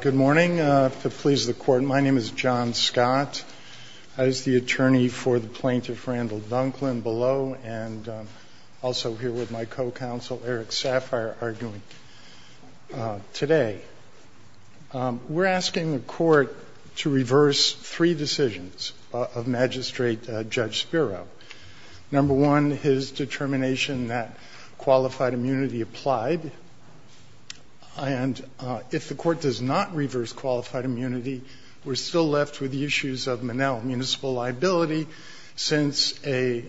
Good morning. To please the Court, my name is John Scott. I was the attorney for the plaintiff Randall Dunklin below and also here with my co-counsel Eric Saffire arguing today. We're asking the Court to reverse three decisions of Magistrate Judge Spiro. Number one, his And if the Court does not reverse qualified immunity, we're still left with the issues of Manel. Municipal liability, since a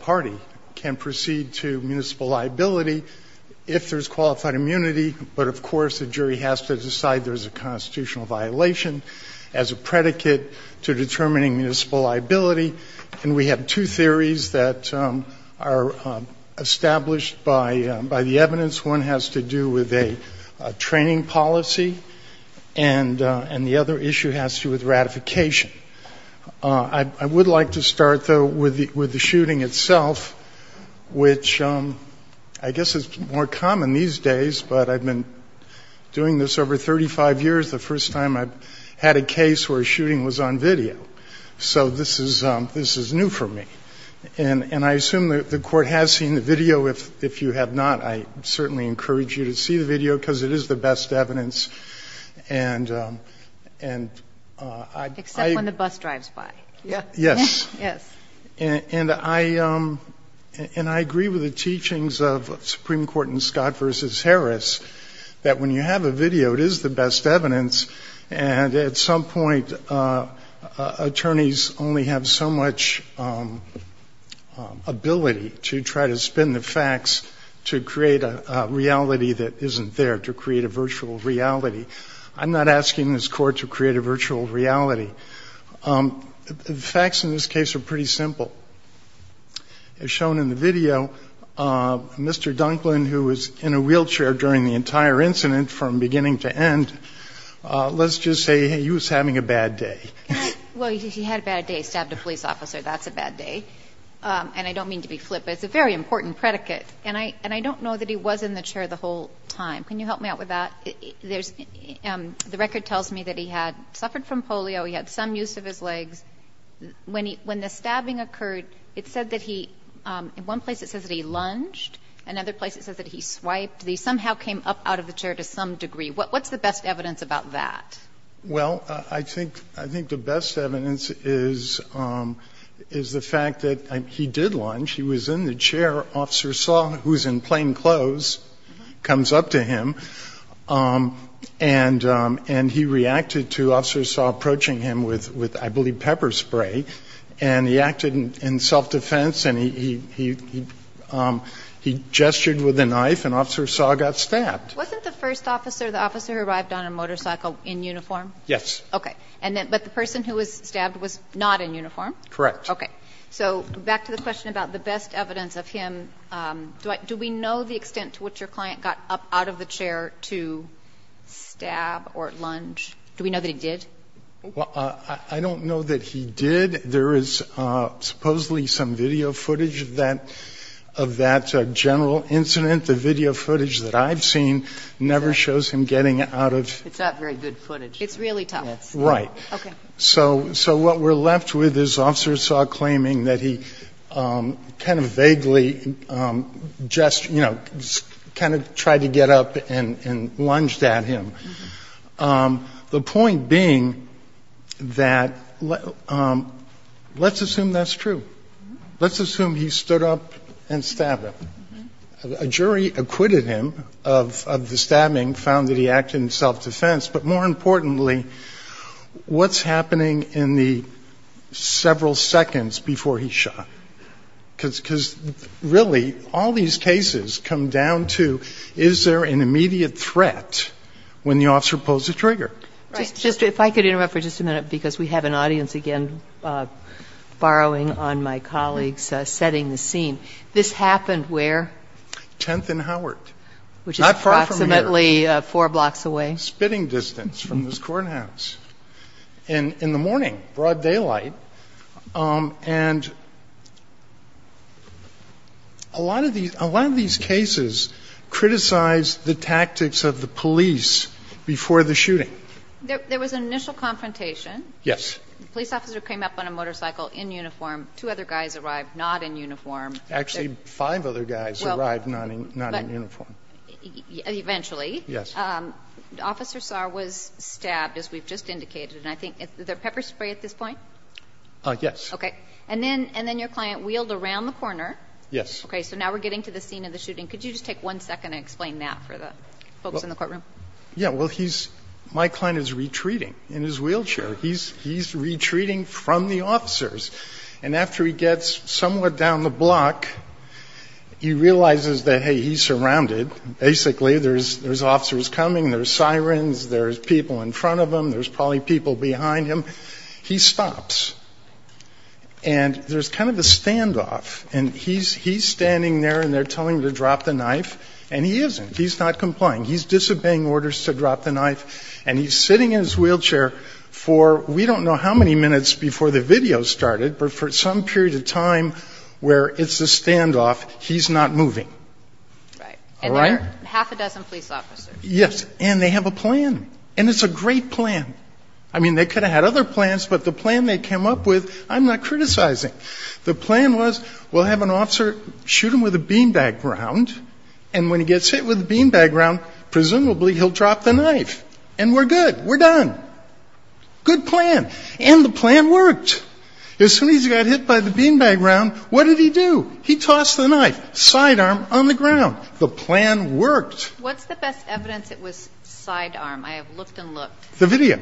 party can proceed to municipal liability if there's qualified immunity, but of course the jury has to decide there's a constitutional violation as a predicate to determining municipal liability, and we have two theories that are established by the evidence. One has to do with a training policy, and the other issue has to do with ratification. I would like to start, though, with the shooting itself, which I guess is more common these days, but I've been doing this over 35 years, the first time I've had a case where a shooting was on video. So this is new for me. And I assume that the Court has seen the video. If you have not, I certainly encourage you to see the video because it is the best evidence, and I agree with the teachings of Supreme Court in Scott v. Harris that when you have a video, it is the best evidence, and at some point, the Supreme Court, attorneys only have so much ability to try to spin the facts to create a reality that isn't there, to create a virtual reality. I'm not asking this Court to create a virtual reality. The facts in this case are pretty simple. As shown in the video, Mr. Dunklin, who was in a wheelchair during the entire incident from beginning to end, let's just say, hey, you was having a bad day. Well, he had a bad day. He stabbed a police officer. That's a bad day. And I don't mean to be flippant. It's a very important predicate. And I don't know that he was in the chair the whole time. Can you help me out with that? The record tells me that he had suffered from polio. He had some use of his legs. When the stabbing occurred, it said that he, in one place, it says that he lunged. In another place, it says that he swiped. He somehow came up out of the chair to some degree. What's the best evidence about that? Well, I think the best evidence is the fact that he did lunge. He was in the chair. Officer Saw, who was in plain clothes, comes up to him, and he reacted to Officer Saw approaching him with, I believe, pepper spray. And he acted in self-defense, and he gestured with a knife, and Officer Saw got stabbed. Wasn't the first officer, the officer who arrived on a motorcycle, in uniform? Yes. Okay. But the person who was stabbed was not in uniform? Correct. Okay. So back to the question about the best evidence of him, do we know the extent to which your client got up out of the chair to stab or lunge? Do we know that he did? Well, I don't know that he did. There is supposedly some video footage of that general incident. The video footage that I've seen never shows him getting out of the chair. It's not very good footage. It's really tough. Right. Okay. So what we're left with is Officer Saw claiming that he kind of vaguely gestured or kind of tried to get up and lunged at him. The point being that let's assume that's true. Let's assume he stood up and stabbed him. A jury acquitted him of the stabbing, found that he acted in self-defense. But more importantly, what's happening in the several seconds before he shot? Because really, all these cases come down to, is there an immediate threat when the officer pulls the trigger? Right. If I could interrupt for just a minute, because we have an audience again borrowing on my colleague's setting the scene. This happened where? 10th and Howard. Not far from here. Which is approximately four blocks away. Spitting distance from this courthouse in the morning, broad daylight. And a lot of these cases criticize the tactics of the police before the shooting. There was an initial confrontation. Yes. The police officer came up on a motorcycle in uniform. Two other guys arrived not in uniform. Actually, five other guys arrived not in uniform. Eventually. Yes. Officer Saar was stabbed, as we've just indicated. And I think, is there pepper spray at this point? Yes. Okay. And then your client wheeled around the corner. Yes. Okay. So now we're getting to the scene of the shooting. Could you just take one second and explain that for the folks in the courtroom? Yes. Well, he's, my client is retreating in his wheelchair. He's retreating from the officers. And after he gets somewhat down the block, he realizes that, hey, he's surrounded. Basically, there's officers coming, there's sirens, there's people in front of him. There's probably people behind him. He stops. And there's kind of a standoff. And he's standing there and they're telling him to drop the knife. And he isn't. He's not complying. He's disobeying orders to drop the knife. And he's sitting in his wheelchair for, we don't know how many minutes before the video started, but for some period of time where it's a standoff, he's not moving. Right. All right. Half a dozen police officers. Yes. And they have a plan. And it's a great plan. I mean, they could have had other plans, but the plan they came up with, I'm not criticizing. The plan was, we'll have an officer shoot him with a beanbag round. And when he gets hit with a beanbag round, presumably he'll drop the knife. And we're good. We're done. Good plan. And the plan worked. As soon as he got hit by the beanbag round, what did he do? He tossed the knife, sidearm on the ground. The plan worked. What's the best evidence it was sidearm? I have looked and looked. The video.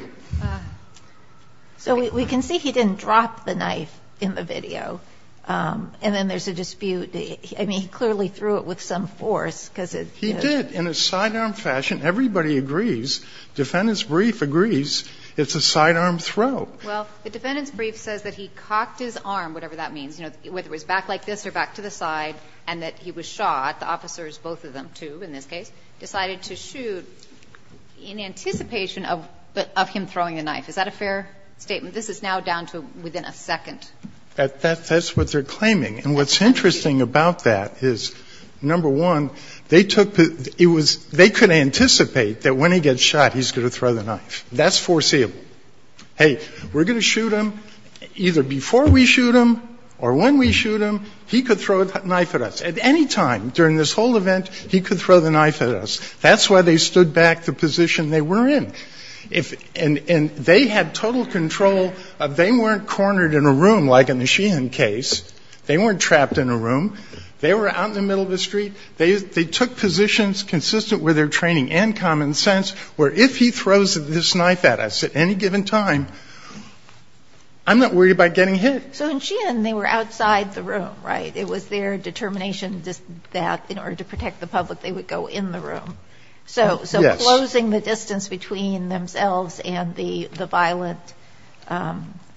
So we can see he didn't drop the knife in the video. And then there's a dispute. I mean, he clearly threw it with some force, because it's, you know. He did, in a sidearm fashion. Everybody agrees. Defendant's brief agrees it's a sidearm throw. Well, the defendant's brief says that he cocked his arm, whatever that means, you know, whether it was back like this or back to the side, and that he was shot. The officers, both of them, two in this case, decided to shoot in anticipation of him throwing the knife. Is that a fair statement? This is now down to within a second. That's what they're claiming. And what's interesting about that is, number one, they took the — it was — they could anticipate that when he gets shot, he's going to throw the knife. That's foreseeable. Hey, we're going to shoot him. Either before we shoot him or when we shoot him, he could throw the knife at us. At any time during this whole event, he could throw the knife at us. That's why they stood back the position they were in. And they had total control of — they weren't cornered in a room like in the Sheehan case. They weren't trapped in a room. They were out in the middle of the street. They took positions consistent with their training and common sense, where if he throws this knife at us at any given time, I'm not worried about getting hit. So in Sheehan, they were outside the room, right? It was their determination that in order to protect the public, they would go in the room. So closing the distance between themselves and the violent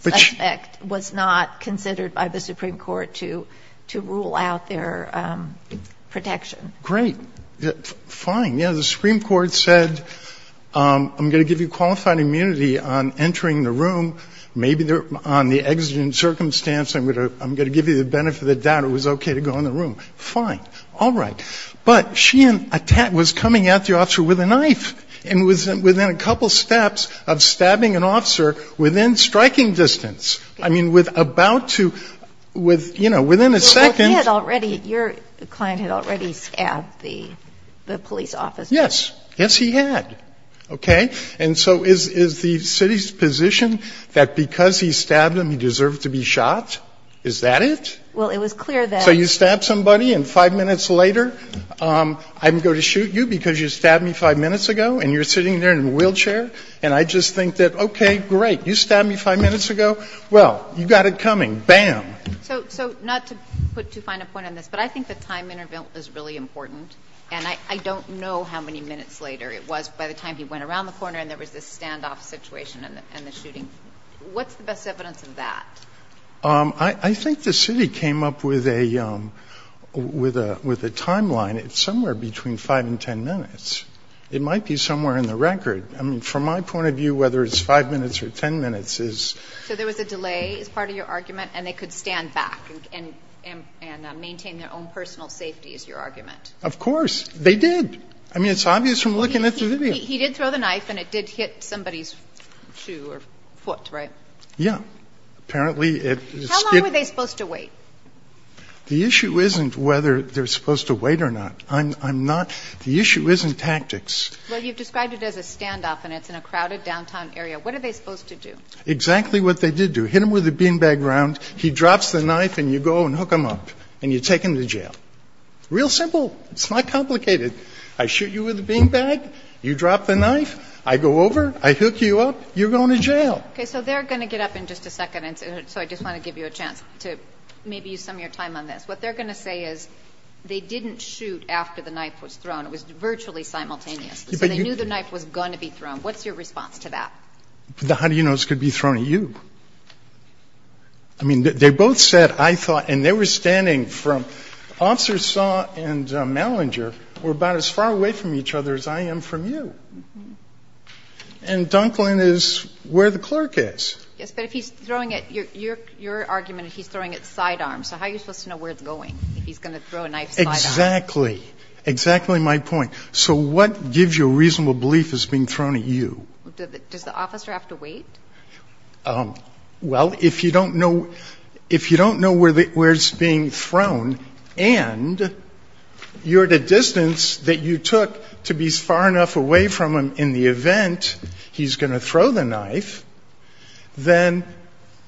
suspect was not considered by the Supreme Court to rule out their protection. Great. Fine. Yeah, the Supreme Court said, I'm going to give you qualified immunity on entering the room. Maybe on the exigent circumstance, I'm going to give you the benefit of the doubt it was okay to go in the room. Fine. All right. But Sheehan was coming at the officer with a knife and was within a couple steps of stabbing an officer within striking distance. I mean, with about to, with, you know, within a second. He had already, your client had already stabbed the police officer. Yes. Yes, he had. Okay. And so is the city's position that because he stabbed him, he deserved to be shot? Is that it? Well, it was clear that. So you stabbed somebody and five minutes later, I'm going to shoot you because you stabbed me five minutes ago and you're sitting there in a wheelchair? And I just think that, okay, great. You stabbed me five minutes ago. Well, you got it coming. Bam. So not to put too fine a point on this, but I think the time interval is really important. And I don't know how many minutes later it was by the time he went around the corner and there was this standoff situation and the shooting. What's the best evidence of that? I think the city came up with a timeline. It's somewhere between five and ten minutes. It might be somewhere in the record. I mean, from my point of view, whether it's five minutes or ten minutes is. So there was a delay as part of your argument and they could stand back and maintain their own personal safety is your argument? Of course. They did. I mean, it's obvious from looking at the video. He did throw the knife and it did hit somebody's shoe or foot, right? Yeah. Apparently it. How long were they supposed to wait? The issue isn't whether they're supposed to wait or not. I'm not. The issue isn't tactics. Well, you've described it as a standoff and it's in a crowded downtown area. What are they supposed to do? Exactly what they did do. Hit him with a beanbag round. He drops the knife and you go and hook him up and you take him to jail. Real simple. It's not complicated. I shoot you with a beanbag. You drop the knife. I go over. I hook you up. You're going to jail. Okay. So they're going to get up in just a second. And so I just want to give you a chance to maybe use some of your time on this. What they're going to say is they didn't shoot after the knife was thrown. It was virtually simultaneous. So they knew the knife was going to be thrown. What's your response to that? How do you know it's going to be thrown at you? I mean, they both said, I thought, and they were standing from Officer Saw and Malinger were about as far away from each other as I am from you. And Dunklin is where the clerk is. Yes, but if he's throwing it, your argument is he's throwing it sidearm. So how are you supposed to know where it's going if he's going to throw a knife sidearm? Exactly. Exactly my point. So what gives you a reasonable belief it's being thrown at you? Does the officer have to wait? Well, if you don't know, if you don't know where it's being thrown and you're at a distance that you took to be far enough away from him in the event he's going to throw the knife, then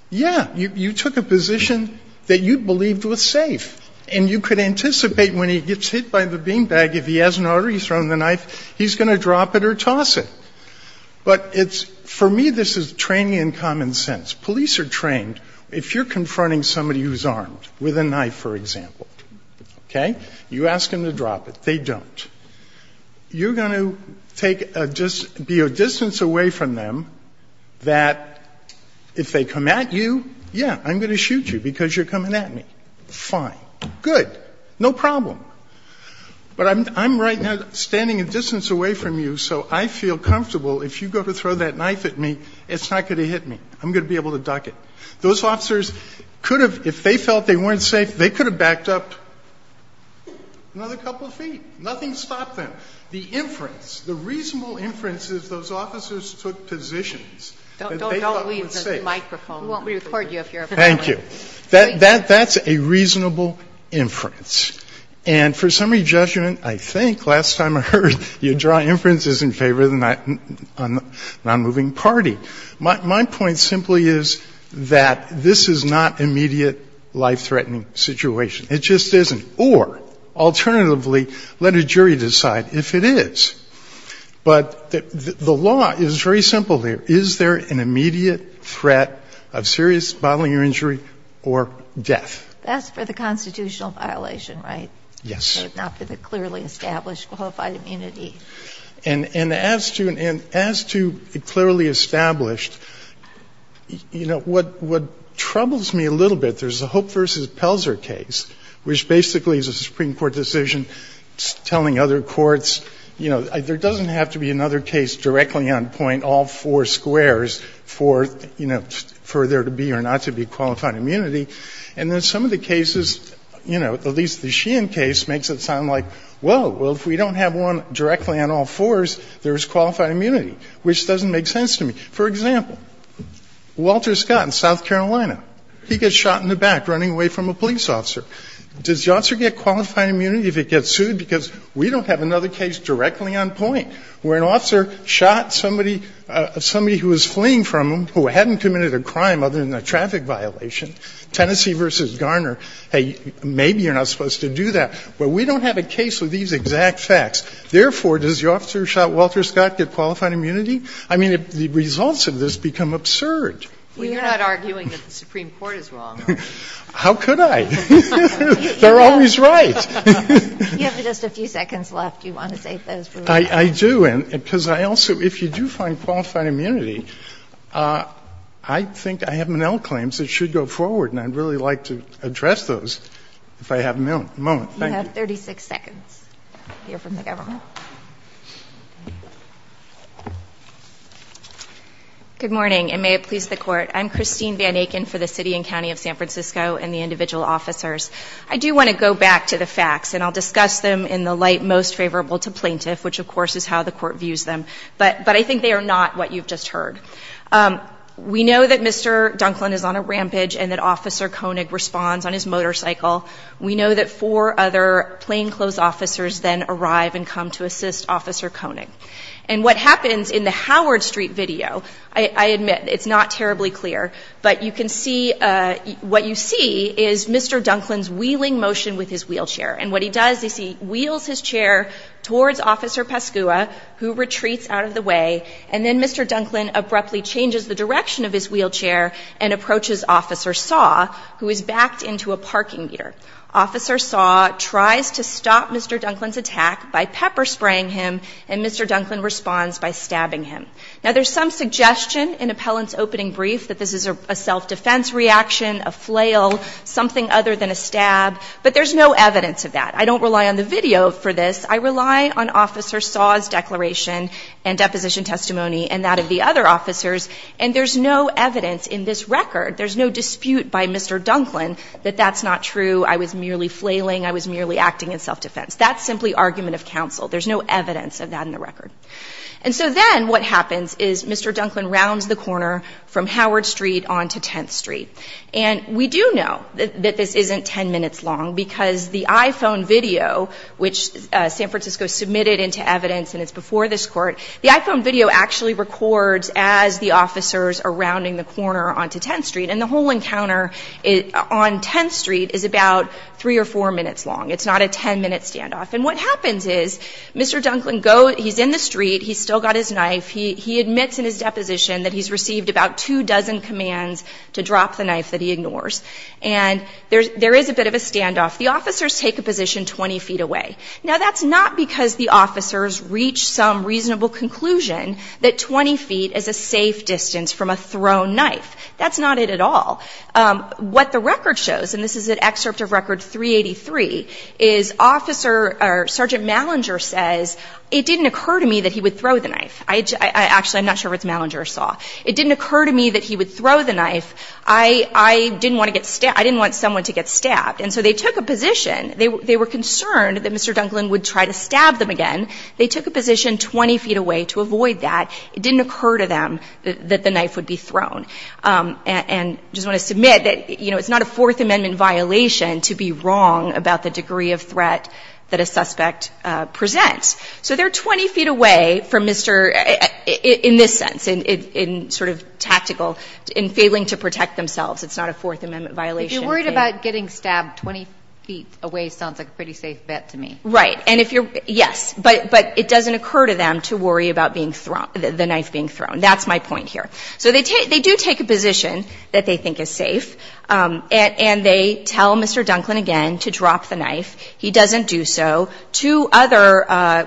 yeah, you took a position that you believed was safe. And you could anticipate when he gets hit by the beanbag, if he has an order, he's thrown the knife, he's going to drop it or toss it. But for me, this is training in common sense. Police are trained, if you're confronting somebody who's armed with a knife, for example, OK, you ask them to drop it. They don't. You're going to be a distance away from them that if they come at you, yeah, I'm going to shoot you because you're coming at me. Fine, good, no problem. But I'm right now standing a distance away from you, so I feel comfortable. If you go to throw that knife at me, it's not going to hit me. I'm going to be able to duck it. Those officers could have, if they felt they weren't safe, they could have backed up another couple of feet. Nothing stopped them. The inference, the reasonable inference is those officers took positions that they thought were safe. Don't leave the microphone. We won't record you if you're a friend. Thank you. That's a reasonable inference. And for summary judgment, I think last time I heard you draw inferences in favor of the nonmoving party. My point simply is that this is not immediate life-threatening situation. It just isn't. Or alternatively, let a jury decide if it is. But the law is very simple there. Is there an immediate threat of serious bodily injury or death? That's for the constitutional violation, right? Yes. Not for the clearly established qualified immunity. And as to clearly established, you know, what troubles me a little bit, there's a Hope versus Pelzer case, which basically is a Supreme Court decision telling other courts, you know, there doesn't have to be another case directly on point all four squares for, you know, for there to be or not to be qualified immunity. And then some of the cases, you know, at least the Sheehan case makes it sound like, whoa, well, if we don't have one directly on all fours, there's qualified immunity, which doesn't make sense to me. For example, Walter Scott in South Carolina, he gets shot in the back running away from a police officer. Does the officer get qualified immunity if he gets sued? Because we don't have another case directly on point where an officer shot somebody who was fleeing from him who hadn't committed a crime other than a traffic violation. Tennessee versus Garner, hey, maybe you're not supposed to do that. But we don't have a case with these exact facts. Therefore, does the officer who shot Walter Scott get qualified immunity? I mean, the results of this become absurd. We're not arguing that the Supreme Court is wrong. How could I? They're always right. You have just a few seconds left. Do you want to save those for later? I do. And because I also – if you do find qualified immunity, I think I have Monell claims that should go forward, and I'd really like to address those if I have a moment. Thank you. You have 36 seconds to hear from the government. Good morning, and may it please the Court. I'm Christine Van Aken for the City and County of San Francisco and the individual officers. I do want to go back to the facts, and I'll discuss them in the light most favorable to plaintiff, which, of course, is how the Court views them. But I think they are not what you've just heard. We know that Mr. Dunklin is on a rampage and that Officer Koenig responds on his motorcycle. We know that four other plainclothes officers then arrive and come to assist Officer Koenig. And what happens in the Howard Street video – I admit, it's not terribly clear, but you can see – what you see is Mr. Dunklin's wheeling motion with his wheelchair. And what he does is he wheels his chair towards Officer Pascua, who retreats out of the way, and then Mr. Dunklin abruptly changes the direction of his wheelchair and approaches Officer Saw, who is backed into a parking meter. Officer Saw tries to stop Mr. Dunklin's attack by pepper-spraying him, and Mr. Dunklin responds by stabbing him. Now, there's some suggestion in Appellant's opening brief that this is a self-defense reaction, a flail, something other than a stab, but there's no evidence of that. I don't rely on the video for this. I rely on Officer Saw's declaration and deposition testimony and that of the other officers, and there's no evidence in this record, there's no dispute by Mr. Dunklin that that's not true. I was merely flailing. I was merely acting in self-defense. That's simply argument of counsel. There's no evidence of that in the record. And so then what happens is Mr. Dunklin rounds the corner from Howard Street onto 10th Street. And we do know that this isn't 10 minutes long because the iPhone video, which San Francisco submitted into evidence and it's before this Court, the iPhone video actually records as the officers are rounding the corner onto 10th Street, and the whole encounter on 10th Street is about three or four minutes long. It's not a 10-minute standoff. And what happens is Mr. Dunklin goes, he's in the street. He's still got his knife. He admits in his deposition that he's received about two dozen commands to drop the knife that he ignores. And there is a bit of a standoff. The officers take a position 20 feet away. Now, that's not because the officers reached some reasonable conclusion that 20 feet is a safe distance from a thrown knife. That's not it at all. What the record shows, and this is an excerpt of Record 383, is Sergeant Malinger says, it didn't occur to me that he would throw the knife. Actually, I'm not sure if it's Malinger or Saw. It didn't occur to me that he would throw the knife. I didn't want someone to get stabbed. And so they took a position. They were concerned that Mr. Dunklin would try to stab them again. They took a position 20 feet away to avoid that. It didn't occur to them that the knife would be thrown. And I just want to submit that, you know, it's not a Fourth Amendment violation to be wrong about the degree of threat that a suspect presents. So they're 20 feet away from Mr. — in this sense, in sort of tactical, in failing to protect themselves. It's not a Fourth Amendment violation. If you're worried about getting stabbed 20 feet away sounds like a pretty safe bet to me. Right. And if you're — yes. But it doesn't occur to them to worry about being thrown — the knife being thrown. That's my point here. So they do take a position that they think is safe. And they tell Mr. Dunklin again to drop the knife. He doesn't do so. Two other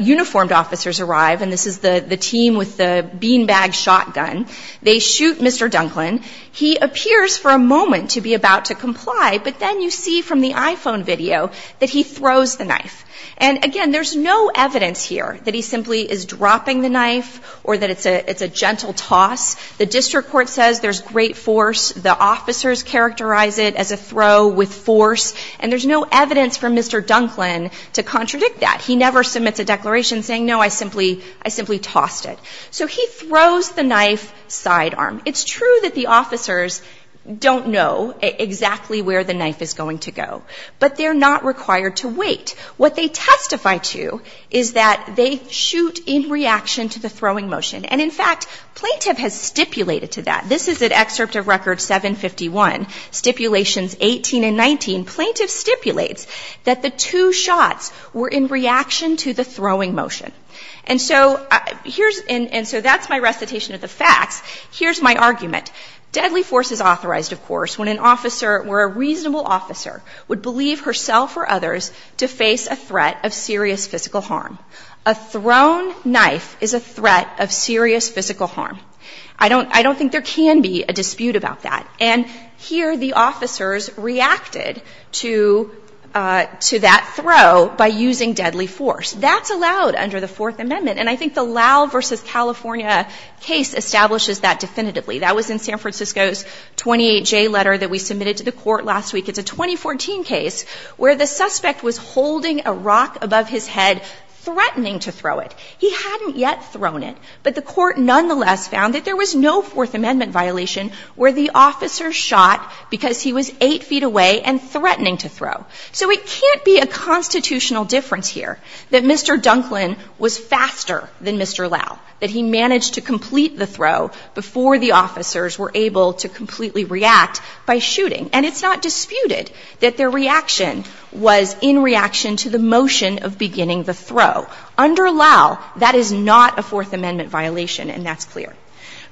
uniformed officers arrive. And this is the team with the beanbag shotgun. They shoot Mr. Dunklin. He appears for a moment to be about to comply. But then you see from the iPhone video that he throws the knife. And again, there's no evidence here that he simply is dropping the knife or that it's a gentle toss. The district court says there's great force. The officers characterize it as a throw with force. And there's no evidence for Mr. Dunklin to contradict that. He never submits a declaration saying, no, I simply tossed it. So he throws the knife sidearm. It's true that the officers don't know exactly where the knife is going to go. But they're not required to wait. What they testify to is that they shoot in reaction to the throwing motion. And in fact, plaintiff has stipulated to that. This is an excerpt of Record 751, Stipulations 18 and 19. Plaintiff stipulates that the two shots were in reaction to the throwing motion. And so that's my recitation of the facts. Here's my argument. Deadly force is authorized, of course, when an officer, would believe herself or others to face a threat of serious physical harm. A thrown knife is a threat of serious physical harm. I don't think there can be a dispute about that. And here the officers reacted to that throw by using deadly force. That's allowed under the Fourth Amendment. And I think the Lau versus California case establishes that definitively. That was in San Francisco's 28J letter that we submitted to the court last week. It's a 2014 case where the suspect was holding a rock above his head, threatening to throw it. He hadn't yet thrown it. But the court nonetheless found that there was no Fourth Amendment violation where the officer shot because he was eight feet away and threatening to throw. So it can't be a constitutional difference here that Mr. Dunklin was faster than Mr. Lau. That he managed to complete the throw before the officers were able to completely react by shooting. And it's not disputed that their reaction was in reaction to the motion of beginning the throw. Under Lau, that is not a Fourth Amendment violation, and that's clear.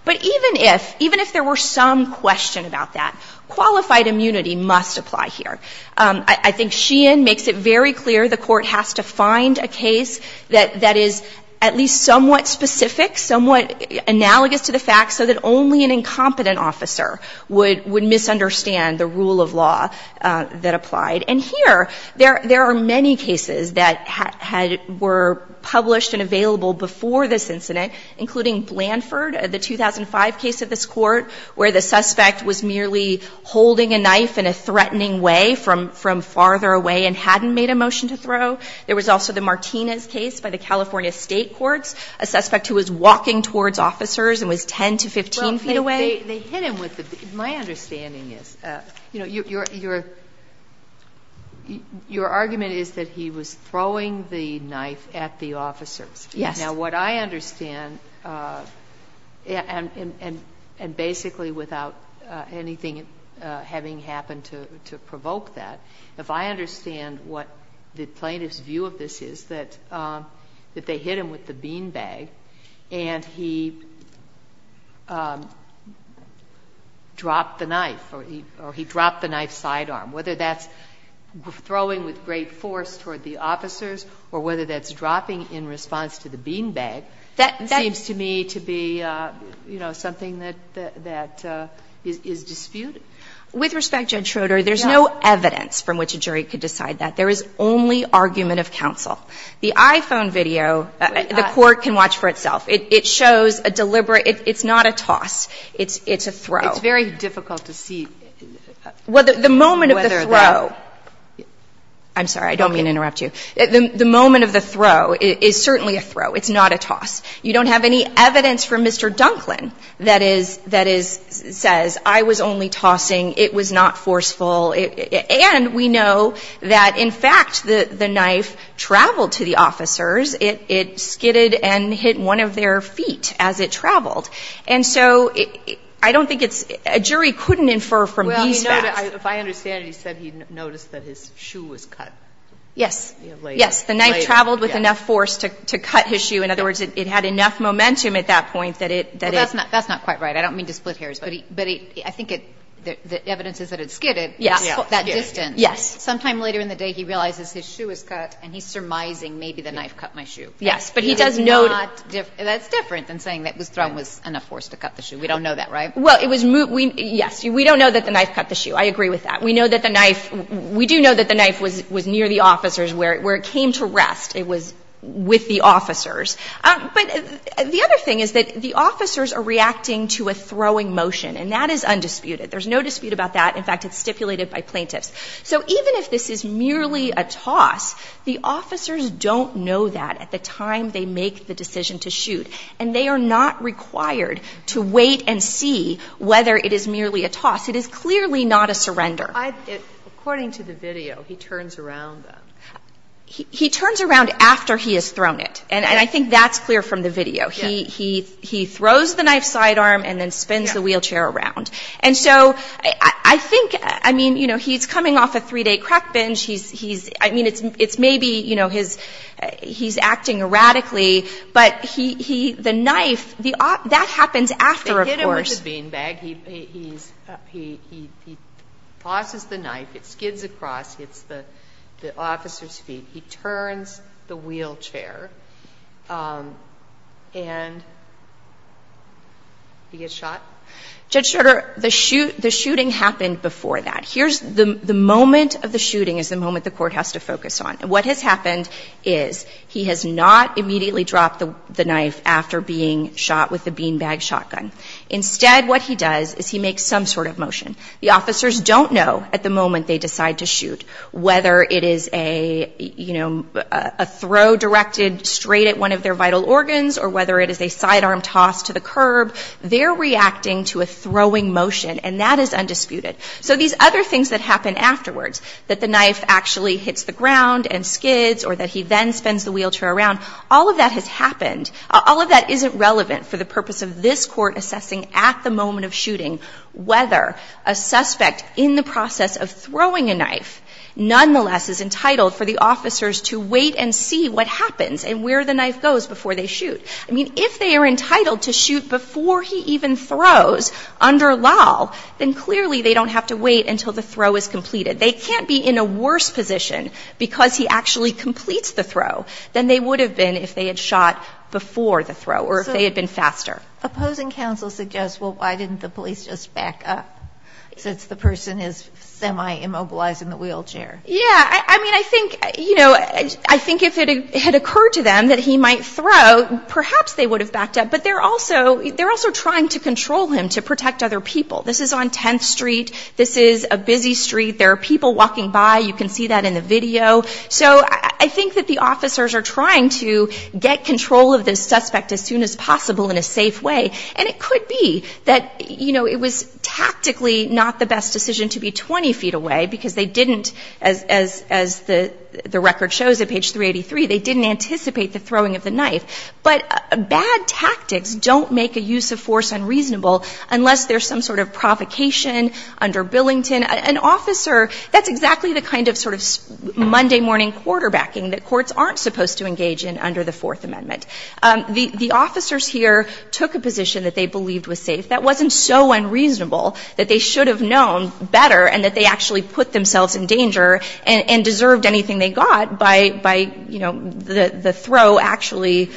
But even if, even if there were some question about that, qualified immunity must apply here. I think Sheehan makes it very clear the Court has to find a case that is at least somewhat specific, somewhat analogous to the facts, so that only an incompetent officer would misunderstand the rule of law that applied. And here, there are many cases that had, were published and available before this incident, including Blanford, the 2005 case at this court, where the suspect was merely holding a knife in a threatening way from farther away and hadn't made a motion to throw. There was also the Martinez case by the California State Courts, a suspect who was walking towards officers and was 10 to 15 feet away. They hit him with the, my understanding is, you know, your argument is that he was throwing the knife at the officers. Yes. Now what I understand, and basically without anything having happened to provoke that, if I understand what the plaintiff's view of this is, that they hit him with the beanbag and he dropped the knife or he dropped the knife sidearm, whether that's throwing with great force toward the officers or whether that's dropping in response to the beanbag, seems to me to be, you know, something that is disputed. With respect, Judge Schroeder, there's no evidence from which a jury could decide that. There is only argument of counsel. The iPhone video, the Court can watch for itself. It shows a deliberate, it's not a toss. It's a throw. It's very difficult to see. The moment of the throw. I'm sorry. I don't mean to interrupt you. The moment of the throw is certainly a throw. It's not a toss. You don't have any evidence from Mr. Dunklin that says, I was only tossing. It was not forceful. And we know that, in fact, the knife traveled to the officers. It skidded and hit one of their feet as it traveled. And so I don't think it's – a jury couldn't infer from these facts. Well, you know, if I understand it, he said he noticed that his shoe was cut. Yes. Later. Yes. The knife traveled with enough force to cut his shoe. In other words, it had enough momentum at that point that it – that it – Well, that's not quite right. I don't mean to split hairs. But I think the evidence is that it skidded. Yes. That distance. Yes. Sometime later in the day, he realizes his shoe was cut, and he's surmising maybe the knife cut my shoe. Yes. But he does not – That's different than saying that his throne was enough force to cut the shoe. We don't know that, right? Well, it was – yes. We don't know that the knife cut the shoe. I agree with that. We know that the knife – we do know that the knife was near the officers, where it came to rest. It was with the officers. But the other thing is that the officers are reacting to a throwing motion, and that is undisputed. There's no dispute about that. In fact, it's stipulated by plaintiffs. So even if this is merely a toss, the officers don't know that at the time they make the decision to shoot. And they are not required to wait and see whether it is merely a toss. It is clearly not a surrender. According to the video, he turns around. He turns around after he has thrown it. And I think that's clear from the video. He throws the knife sidearm and then spins the wheelchair around. And so I think – I mean, you know, he's coming off a three-day crack binge. I mean, it's maybe, you know, he's acting erratically. But he – the knife – that happens after, of course. He tosses the knife. It skids across. It hits the officer's feet. He turns the wheelchair. And he gets shot. Judge Schroeder, the shooting happened before that. Here's – the moment of the shooting is the moment the court has to focus on. What has happened is he has not immediately dropped the knife after being shot with the beanbag shotgun. Instead, what he does is he makes some sort of motion. The officers don't know at the moment they decide to shoot whether it is a – you know, a throw directed straight at one of their vital organs or whether it is a sidearm toss to the curb. They're reacting to a throwing motion. And that is undisputed. So these other things that happen afterwards – that the knife actually hits the ground and skids or that he then spins the wheelchair around – all of that has happened. All of that isn't relevant for the purpose of this court assessing at the moment of shooting whether a suspect in the process of throwing a knife nonetheless is entitled for the officers to wait and see what happens and where the knife goes before they shoot. I mean, if they are entitled to shoot before he even throws under law, then clearly they don't have to wait until the throw is completed. They can't be in a worse position because he actually completes the throw than they would have been if they had shot before the throw or if they had been faster. So opposing counsel suggests, well, why didn't the police just back up since the person is semi-immobilized in the wheelchair? Yeah. I mean, I think – you know, I think if it had occurred to them that he might throw, perhaps they would have backed up. But they're also – they're also trying to control him to protect other people. This is on 10th Street. This is a busy street. There are people walking by. You can see that in the video. So I think that the officers are trying to get control of this suspect as soon as possible in a safe way. And it could be that, you know, it was tactically not the best decision to be 20 feet away because they didn't – as the record shows at page 383, they didn't anticipate the throwing of the knife. But bad tactics don't make a use of force unreasonable unless there's some sort of provocation under Billington. An officer – that's exactly the kind of sort of Monday morning quarterbacking that courts aren't supposed to engage in under the Fourth Amendment. The officers here took a position that they believed was safe. That wasn't so unreasonable that they should have known better and that they actually put themselves in danger and deserved anything they got by – by, you know, the throw actually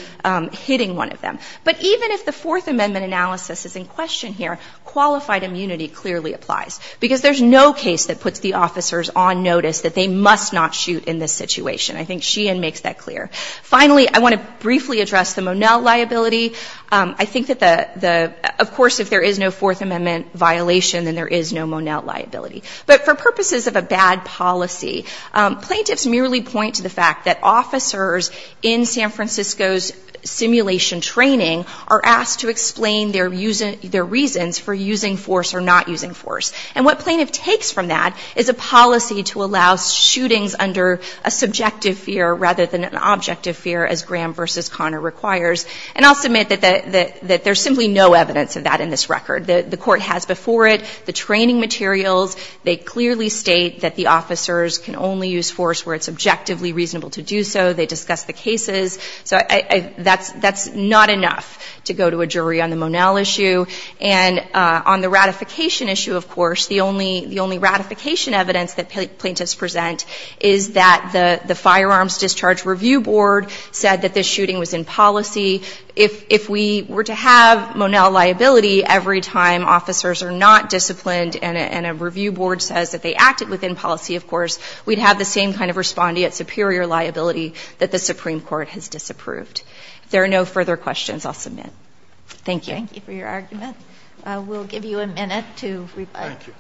hitting one of them. But even if the Fourth Amendment analysis is in question here, qualified immunity clearly applies because there's no case that puts the officers on notice that they must not shoot in this situation. I think Sheehan makes that clear. Finally, I want to briefly address the Monell liability. I think that the – of course, if there is no Fourth Amendment violation, then there is no Monell liability. But for purposes of a bad policy, plaintiffs merely point to the fact that officers in San Francisco's simulation training are asked to explain their – their reasons for using force or not using force. And what plaintiff takes from that is a policy to allow shootings under a subjective fear rather than an objective fear, as Graham v. Connor requires. And I'll submit that there's simply no evidence of that in this record. The court has before it the training materials. They clearly state that the officers can only use force where it's objectively reasonable to do so. They discuss the cases. So I – that's – that's not enough to go to a jury on the Monell issue. And on the ratification issue, of course, the only – the only ratification evidence that plaintiffs present is that the – the Firearms Discharge Review Board said that this shooting was in policy. If – if we were to have Monell liability every time officers are not disciplined and a – and a review board says that they acted within policy, of course, we'd have the same kind of respondeat superior liability that the Supreme Court has disapproved. If there are no further questions, I'll submit. Thank you. MS. GOTTLIEB. Thank you for your argument. We'll give you a minute to reply. MR. BOUTROUS.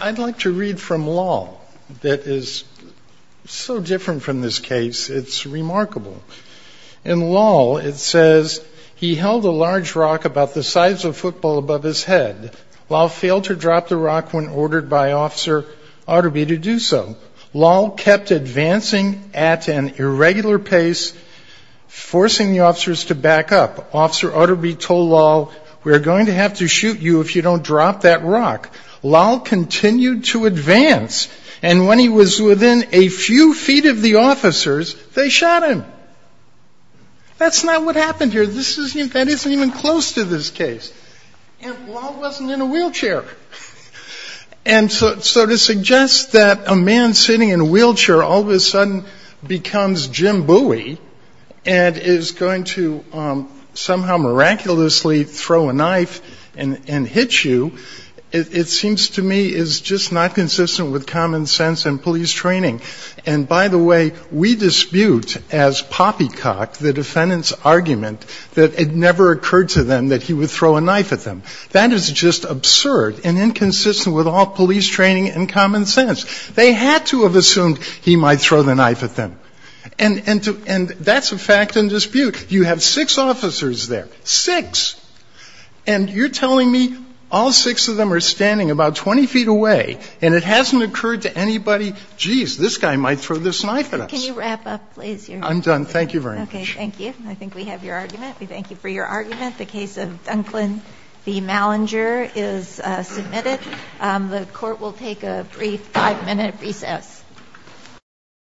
I'd like to read from Law that is so different from this case. It's remarkable. In Law, it says, he held a large rock about the size of a football above his head. Law failed to drop the rock when ordered by Officer Arderby to do so. Law kept advancing at an irregular pace, forcing the officers to back up. Officer Arderby told Law, we're going to have to shoot you if you don't drop that rock. Law continued to advance, and when he was within a few feet of the officers, they shot him. That's not what happened here. This isn't – that isn't even close to this case. And Law wasn't in a wheelchair. And so to suggest that a man sitting in a wheelchair all of a sudden becomes Jim Bowie and is going to somehow miraculously throw a knife and hit you, it seems to me is just not consistent with common sense and police training. And by the way, we dispute as poppycock the defendant's argument that it never occurred to them that he would throw a knife at them. That is just absurd and inconsistent with all police training and common sense. They had to have assumed he might throw the knife at them. And that's a fact in dispute. You have six officers there, six, and you're telling me all six of them are standing about 20 feet away, and it hasn't occurred to anybody, geez, this guy might throw this knife at us. Can you wrap up, please? I'm done. Thank you very much. Okay. Thank you. I think we have your argument. We thank you for your argument. The case of Dunclan v. Malinger is submitted. The court will take a brief five-minute recess.